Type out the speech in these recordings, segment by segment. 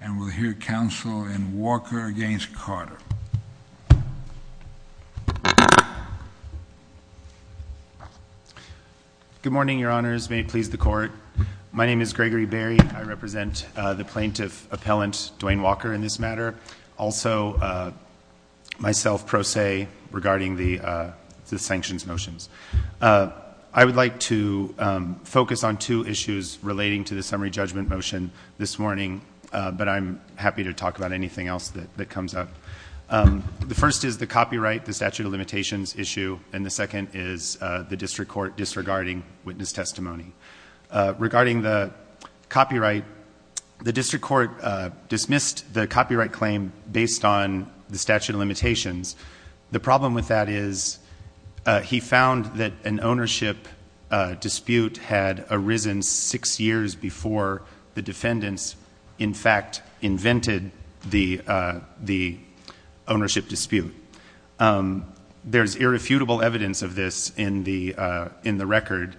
And we'll hear counsel in Walker v. Carter. Good morning, your honors. May it please the court. My name is Gregory Berry. I represent the plaintiff appellant, Dwayne Walker, in this matter. Also, myself, pro se, regarding the sanctions motions. I would like to focus on two issues relating to the summary judgment motion this morning. But I'm happy to talk about anything else that comes up. The first is the copyright, the statute of limitations issue. And the second is the district court disregarding witness testimony. Regarding the copyright, the district court dismissed the copyright claim based on the statute of limitations. The problem with that is he found that an ownership dispute had arisen six years before the defendants, in fact, invented the ownership dispute. There's irrefutable evidence of this in the record.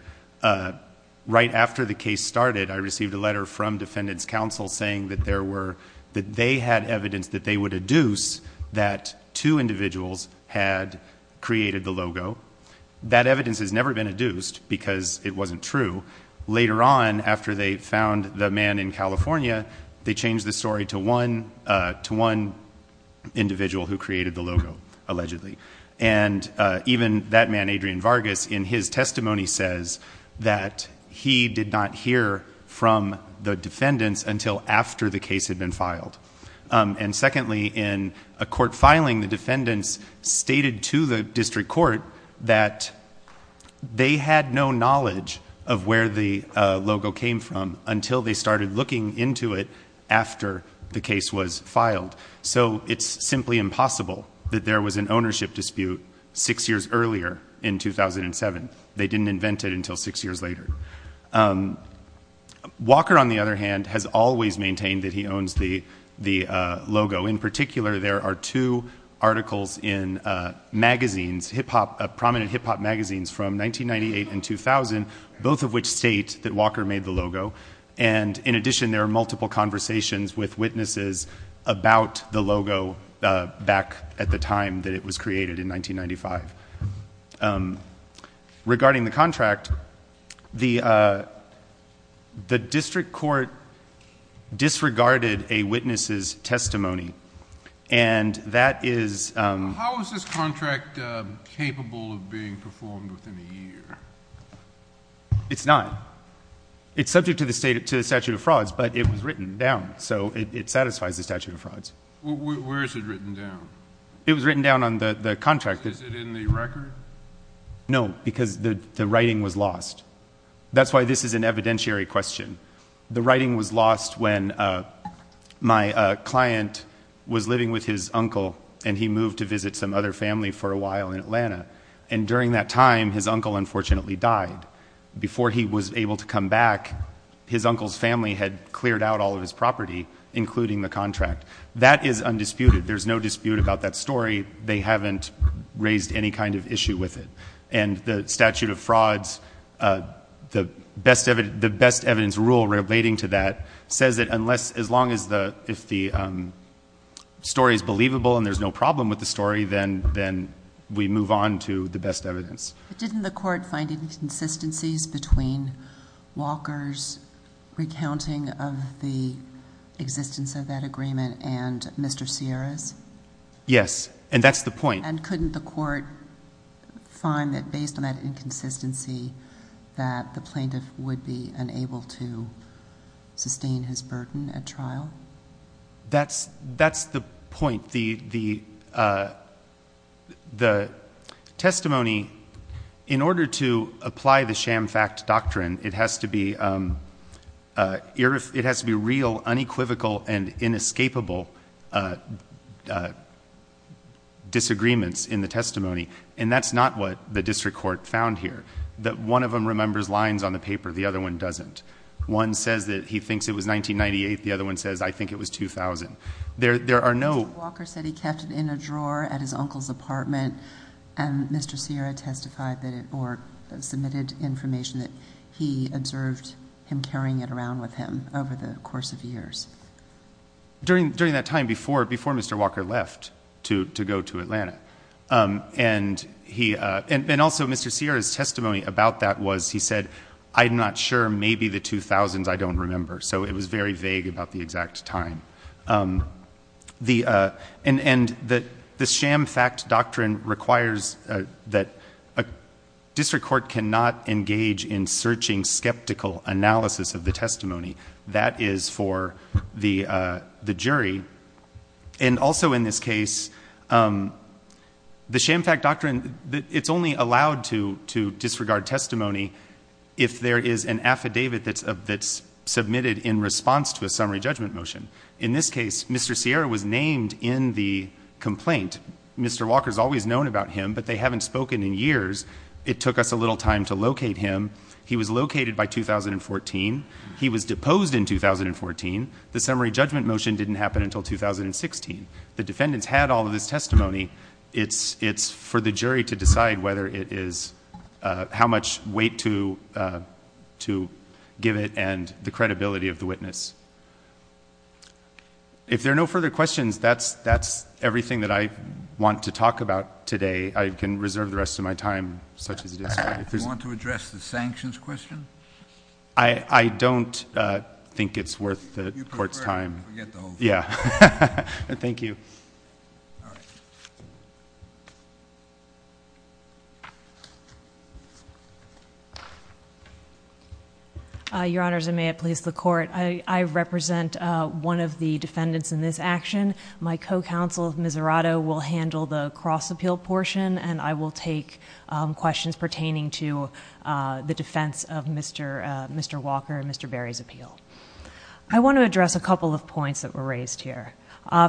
Right after the case started, I received a letter from defendants counsel saying that they had evidence that they would adduce that two individuals had created the logo. That evidence has never been adduced because it wasn't true. Later on, after they found the man in California, they changed the story to one individual who created the logo, allegedly. And even that man, Adrian Vargas, in his testimony says that he did not hear from the defendants until after the case had been filed. And secondly, in a court filing, the defendants stated to the district court that they had no knowledge of where the logo came from until they started looking into it after the case was filed. So it's simply impossible that there was an ownership dispute six years earlier in 2007. They didn't invent it until six years later. Walker, on the other hand, has always maintained that he owns the logo. In particular, there are two articles in magazines, hip-hop, prominent hip-hop magazines from 1998 and 2000, both of which state that Walker made the logo. And in addition, there are multiple conversations with witnesses about the logo back at the time that it was created in 1995. Regarding the contract, the district court disregarded a witness's testimony and that is... How is this contract capable of being performed within a year? It's not. It's subject to the statute of frauds, but it was written down, so it satisfies the statute of frauds. Where is it written down? It was written down on the contract. Is it in the record? No, because the writing was lost. That's why this is an evidentiary question. The writing was lost when my client was living with his uncle and he moved to visit some other family for a while in Atlanta. And during that time, his uncle unfortunately died. Before he was able to come back, his uncle's family had cleared out all of his property, including the contract. That is undisputed. There's no dispute about that story. They haven't raised any kind of issue with it. And the statute of frauds, the best evidence rule relating to that, says that unless, as long as the story is believable and there's no problem with the story, then we move on to the best evidence. Didn't the court find inconsistencies between Walker's recounting of the existence of that agreement and Mr. Sierra's? Yes, and that's the point. And couldn't the court find that based on that inconsistency that the plaintiff would be unable to sustain his burden at trial? That's the point. The testimony, in order to apply the sham fact doctrine, it has to be real, unequivocal, and inescapable disagreements in the testimony. And that's not what the district court found here. One of them remembers lines on the paper. The other one doesn't. One says that he thinks it was 1998. The other one says, I think it was 2000. Mr. Walker said he kept it in a drawer at his uncle's apartment. And Mr. Sierra testified or submitted information that he observed him carrying it around with him over the course of years. During that time, before Mr. Walker left to go to Atlanta, and also Mr. Sierra's testimony about that was he said, I'm not sure, maybe the 2000s, I don't remember. So it was very vague about the exact time. And the sham fact doctrine requires that a district court cannot engage in searching skeptical analysis of the testimony. That is for the jury. And also in this case, the sham fact doctrine, it's only allowed to disregard testimony if there is an affidavit that's submitted in response to a summary judgment motion. In this case, Mr. Sierra was named in the complaint. Mr. Walker's always known about him, but they haven't spoken in years. It took us a little time to locate him. He was located by 2014. He was deposed in 2014. The summary judgment motion didn't happen until 2016. The defendants had all of this testimony. It's for the jury to decide whether it is, how much weight to give it and the credibility of the witness. If there are no further questions, that's everything that I want to talk about today. I can reserve the rest of my time such as it is. Do you want to address the sanctions question? I don't think it's worth the court's time. You prefer to forget the whole thing. Yeah. Thank you. Your Honors, and may it please the Court. I represent one of the defendants in this action. My co-counsel, Miserato, will handle the cross-appeal portion and I will take questions pertaining to the defense of Mr. Walker and Mr. Berry's appeal. I want to address a couple of points that were raised here.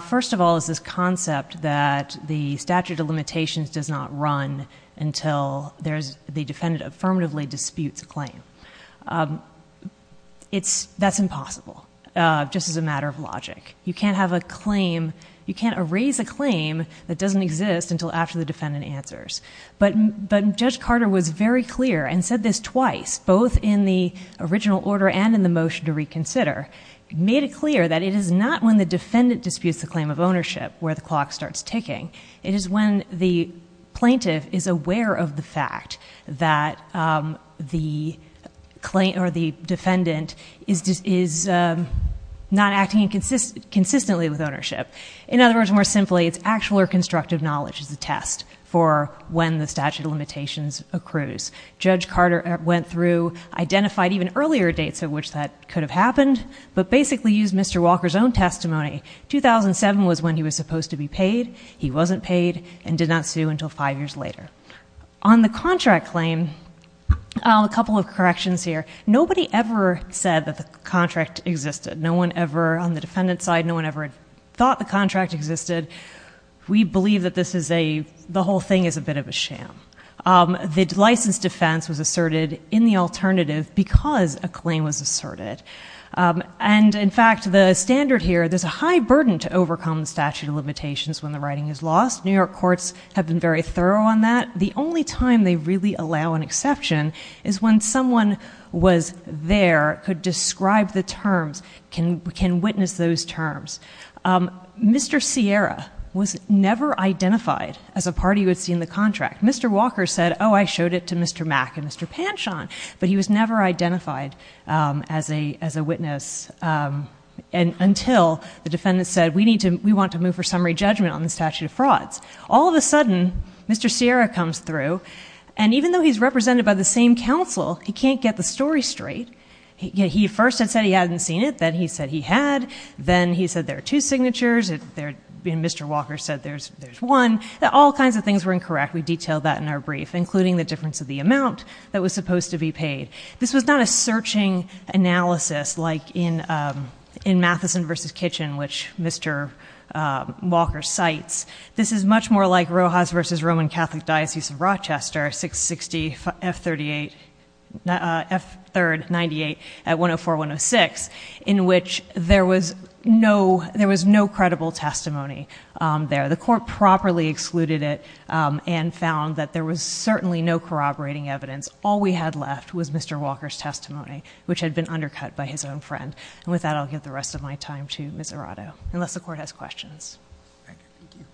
First of all is this concept that the statute of limitations does not run until the defendant affirmatively disputes a claim. That's impossible, just as a matter of logic. You can't have a claim, you can't erase a claim that doesn't exist until after the defendant answers. But Judge Carter was very clear and said this twice, both in the original order and in the motion to reconsider. He made it clear that it is not when the defendant disputes the claim of ownership where the clock starts ticking. It is when the plaintiff is aware of the fact that the defendant is not acting consistently with ownership. In other words, more simply, it's actual or constructive knowledge as a test for when the statute of limitations accrues. Judge Carter went through, identified even earlier dates at which that could have happened, but basically used Mr. Walker's own testimony. 2007 was when he was supposed to be paid. He wasn't paid and did not sue until five years later. On the contract claim, a couple of corrections here. Nobody ever said that the contract existed. No one ever, on the defendant's side, no one ever thought the contract existed. We believe that this is a, the whole thing is a bit of a sham. The licensed defense was asserted in the alternative because a claim was asserted. And in fact, the standard here, there's a high burden to overcome the statute of limitations when the writing is lost. New York courts have been very thorough on that. The only time they really allow an exception is when someone was there, could describe the terms, can witness those terms. Mr. Sierra was never identified as a party who had seen the contract. Mr. Walker said, oh, I showed it to Mr. Mack and Mr. Panshon, but he was never identified as a witness until the defendant said, we need to, we want to move for summary judgment on the statute of frauds. All of a sudden, Mr. Sierra comes through, and even though he's represented by the same counsel, he can't get the story straight. He first had said he hadn't seen it. Then he said he had. Then he said there are two signatures. Mr. Walker said there's one. All kinds of things were incorrect. We detailed that in our brief, including the difference of the amount that was supposed to be paid. This was not a searching analysis like in Matheson v. Kitchen, which Mr. Walker cites. This is much more like Rojas v. Roman Catholic Diocese of Rochester, 660 F3rd 98 at 104-106, in which there was no credible testimony there. The court properly excluded it and found that there was certainly no corroborating evidence. All we had left was Mr. Walker's testimony, which had been undercut by his own friend. With that, I'll give the rest of my time to Ms. Arado, unless the court has questions. Thank you.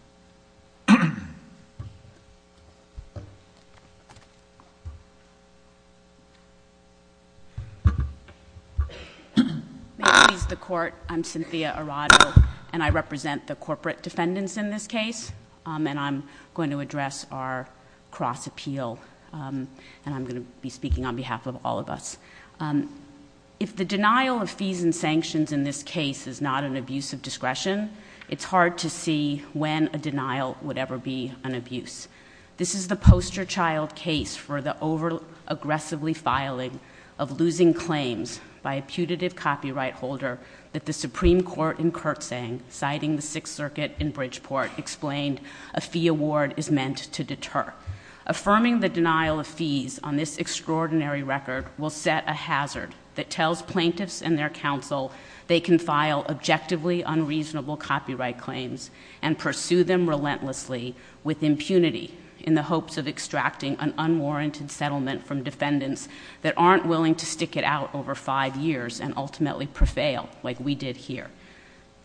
I'm Cynthia Arado, and I represent the corporate defendants in this case. I'm going to address our cross-appeal, and I'm going to be speaking on behalf of all of us. If the denial of fees and sanctions in this case is not an abuse of discretion, it's hard to see when a denial would ever be an abuse. This is the poster child case for the over-aggressively filing of losing claims by a putative copyright holder that the Supreme Court in Kurtzang, citing the Sixth Circuit in Bridgeport, explained a fee award is meant to deter. Affirming the denial of fees on this extraordinary record will set a hazard that tells plaintiffs and their counsel they can file objectively unreasonable copyright claims and pursue them relentlessly with impunity in the hopes of extracting an unwarranted settlement from defendants that aren't willing to stick it out over five years and ultimately prevail, like we did here.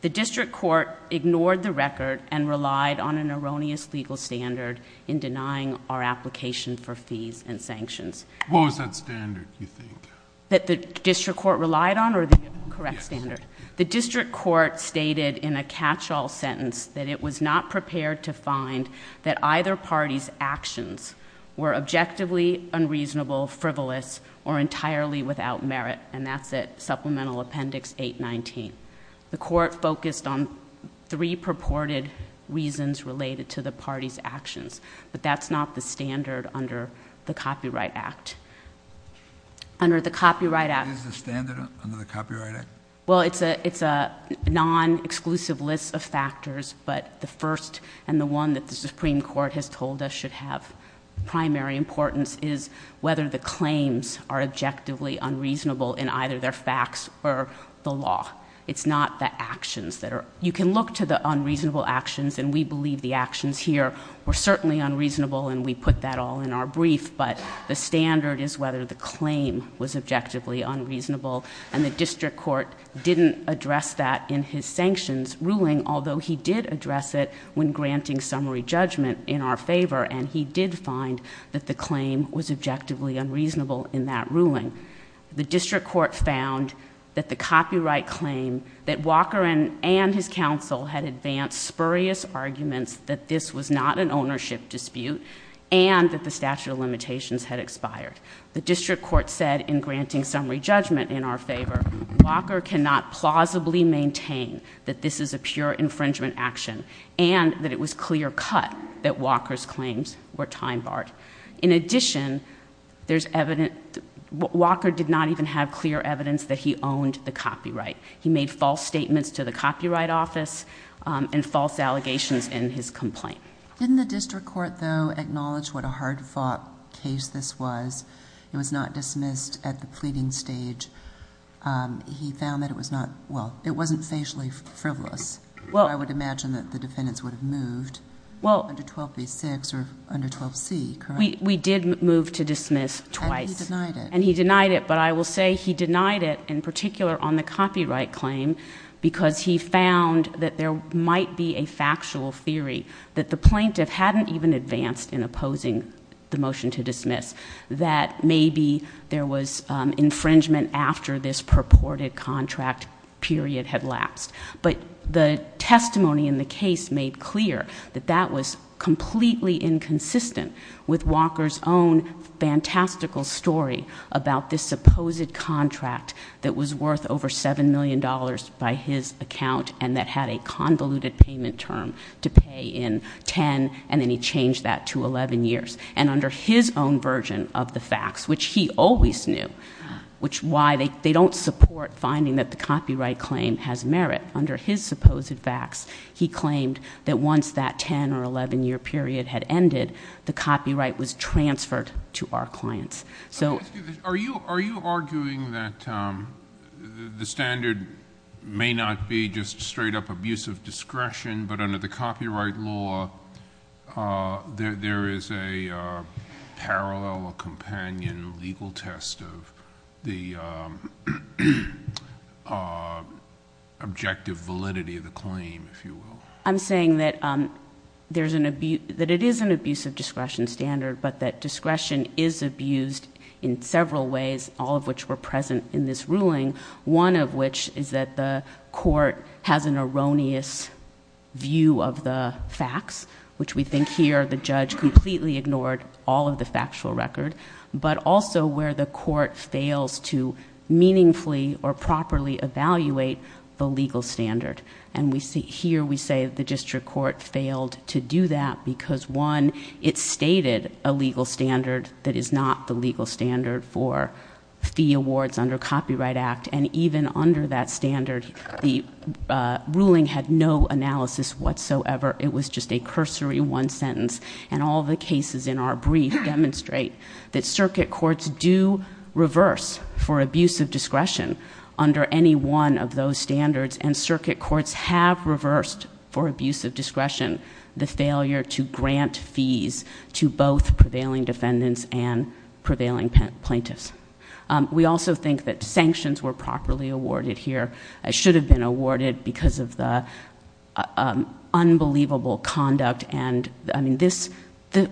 The district court ignored the record and relied on an erroneous legal standard in denying our application for fees and sanctions. What was that standard, do you think? That the district court relied on or the correct standard? Yes. The district court stated in a catch-all sentence that it was not prepared to find that either party's actions were objectively unreasonable, frivolous, or entirely without merit, and that's at Supplemental Appendix 819. The court focused on three purported reasons related to the party's actions, but that's not the standard under the Copyright Act. Under the Copyright Act... What is the standard under the Copyright Act? Well, it's a non-exclusive list of factors, but the first and the one that the Supreme Court has told us should have primary importance is whether the claims are objectively unreasonable in either their facts or the law. It's not the actions that are... You can look to the unreasonable actions, and we believe the actions here are objectively unreasonable, and we put that all in our brief, but the standard is whether the claim was objectively unreasonable, and the district court didn't address that in his sanctions ruling, although he did address it when granting summary judgment in our favor, and he did find that the claim was objectively unreasonable in that ruling. The district court found that the copyright claim, that Walker and his counsel had advanced spurious arguments that this was not an ownership dispute, and that the statute of limitations had expired. The district court said, in granting summary judgment in our favor, Walker cannot plausibly maintain that this is a pure infringement action, and that it was clear-cut that Walker's claims were time-barred. In addition, there's evidence... Walker did not even have clear evidence that he owned the copyright. He made false statements to the Copyright Office and false allegations in his complaint. Didn't the district court, though, acknowledge what a hard-fought case this was? It was not dismissed at the pleading stage. He found that it was not... well, it wasn't facially frivolous. I would imagine that the defendants would have moved under 12b-6 or under 12c, correct? We did move to dismiss twice. And he denied it. And he denied it, but I will say he denied it, in particular on the copyright claim, because he found that there might be a factual theory that the plaintiff hadn't even advanced in opposing the motion to dismiss, that maybe there was infringement after this purported contract period had lapsed. But the testimony in the case made clear that that was completely inconsistent with Walker's own fantastical story about this supposed contract that was worth over $7 million by his account and that had a convoluted payment term to pay in 10, and then he changed that to 11 years. And under his own version of the facts, which he always knew, which is why they don't support finding that the copyright claim has merit. Under his supposed facts, he claimed that once that 10- or 11-year period had ended, the copyright was transferred to our clients. Are you arguing that the standard may not be just straight-up abuse of discretion, but under the copyright law, there is a parallel or companion legal test of the objective validity of the claim, if you will? I'm saying that it is an abuse of discretion standard, but that discretion is abused in several ways, all of which were present in this ruling, one of which is that the court has an erroneous view of the facts, which we think here the judge completely ignored all of the factual record, but also where the court fails to meaningfully or properly evaluate the legal standard. And here we say the district court failed to do that because, one, it stated a legal standard that is not the legal standard for fee awards under Copyright Act, and even under that standard, the ruling had no analysis whatsoever. It was just a cursory one sentence, and all the cases in our brief demonstrate that circuit courts do reverse for abuse of discretion under any one of those standards, and circuit courts have reversed for abuse of discretion the failure to grant fees to both prevailing defendants and prevailing plaintiffs. We also think that sanctions were properly awarded here. It should have been awarded because of the unbelievable conduct, and, I mean, the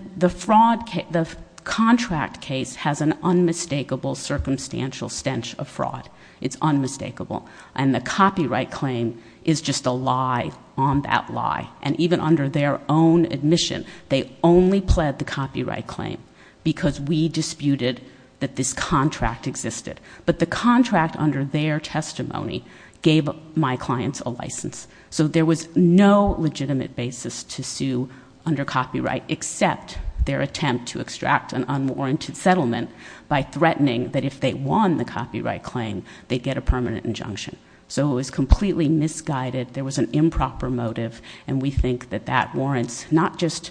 contract case has an unmistakable circumstantial stench of fraud. It's unmistakable. And the copyright claim is just a lie on that lie, because under their own admission, they only pled the copyright claim because we disputed that this contract existed. But the contract under their testimony gave my clients a license. So there was no legitimate basis to sue under copyright except their attempt to extract an unwarranted settlement by threatening that if they won the copyright claim, they'd get a permanent injunction. So it was completely misguided. There was an improper motive, and we think that that warrants not just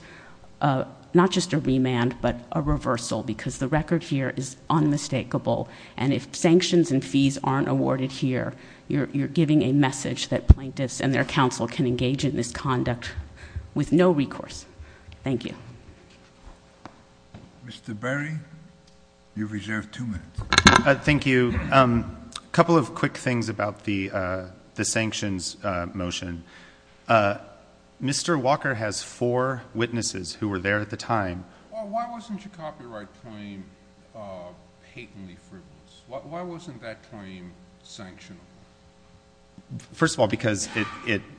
a remand, but a reversal, because the record here is unmistakable. And if sanctions and fees aren't awarded here, you're giving a message that plaintiffs and their counsel can engage in this conduct with no recourse. Thank you. Mr. Berry, you've reserved two minutes. Thank you. A couple of quick things about the sanctions motion. Mr. Walker has four witnesses who were there at the time. Why wasn't your copyright claim patently frivolous? Why wasn't that claim sanctionable? First of all, because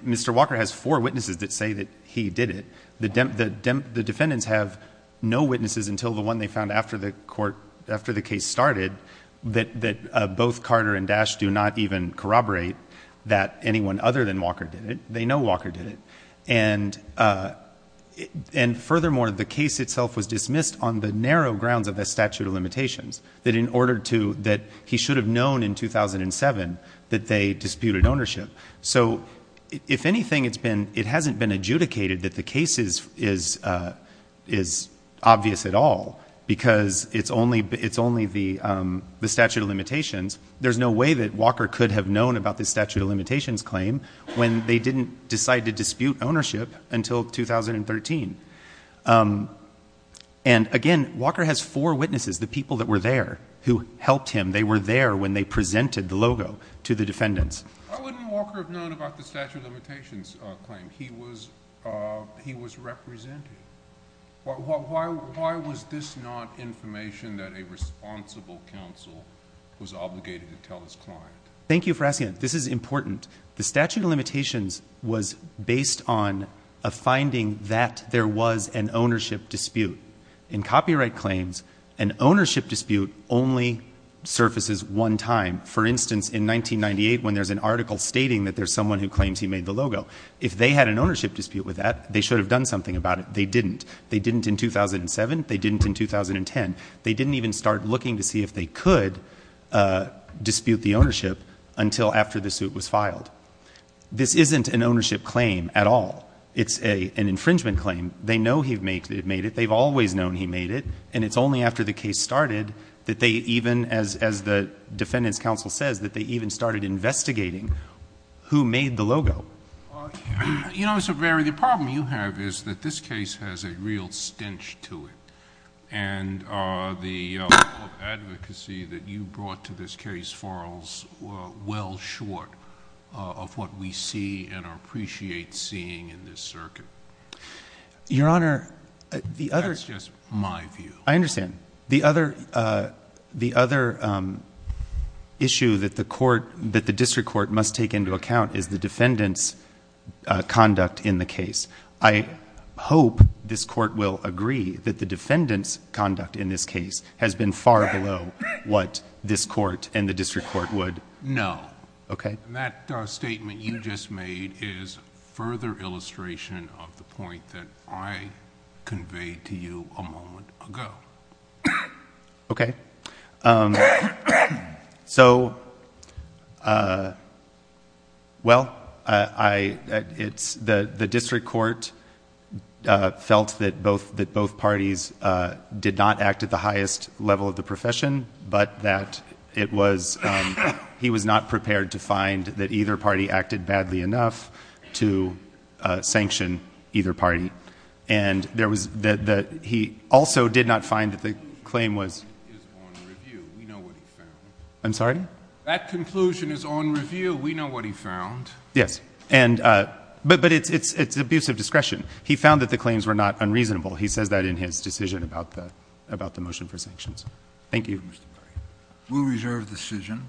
Mr. Walker has four witnesses that say that he did it. The defendants have no witnesses until the one they found after the case started that both Carter and Dash do not even corroborate that anyone other than Walker did it. They know Walker did it. And furthermore, the case itself was dismissed on the narrow grounds of the statute of limitations, that he should have known in 2007 that they disputed ownership. So if anything, it hasn't been adjudicated that the case is obvious at all, because it's only the statute of limitations. There's no way that Walker could have known about the statute of limitations claim when they didn't decide to dispute ownership until 2013. And again, Walker has four witnesses, the people that were there who helped him. They were there when they presented the logo to the defendants. Why wouldn't Walker have known about the statute of limitations claim? He was representing. Why was this not information that a responsible counsel was obligated to tell his client? Thank you for asking. This is important. The statute of limitations was based on a finding that there was an ownership dispute. In copyright claims, an ownership dispute only surfaces one time. For instance, in 1998, when there's an article stating that there's someone who claims he made the logo. If they had an ownership dispute with that, they should have done something about it. They didn't. They didn't in 2007. They didn't in 2010. They didn't even start looking to see if they could dispute the ownership until after the suit was filed. This isn't an ownership claim at all. It's an infringement claim. They know he made it. They've always known he made it. And it's only after the case started that they even, as the defendant's counsel says, that they even started investigating who made the logo. You know, Mr. Berry, the problem you have is that this case has a real stench to it. And the advocacy that you brought to this case falls well short of what we see and appreciate seeing in this circuit. Your Honor, the other... That's just my view. I understand. The other issue that the court, that the district court must take into account is the defendant's conduct in the case. I hope this court will agree that the defendant's conduct in this case has been far below what this court and the district court would... No. And that statement you just made is a further illustration of the point that I conveyed to you a moment ago. Okay. Okay. So, well, I... The district court felt that both parties did not act at the highest level of the profession, but that it was... He was not prepared to find that either party acted badly enough to sanction either party. And there was... He also did not find that the claim was... I'm sorry? That conclusion is on review. We know what he found. Yes. But it's abuse of discretion. He found that the claims were not unreasonable. He says that in his decision about the motion for sanctions. Thank you. We'll reserve the decision.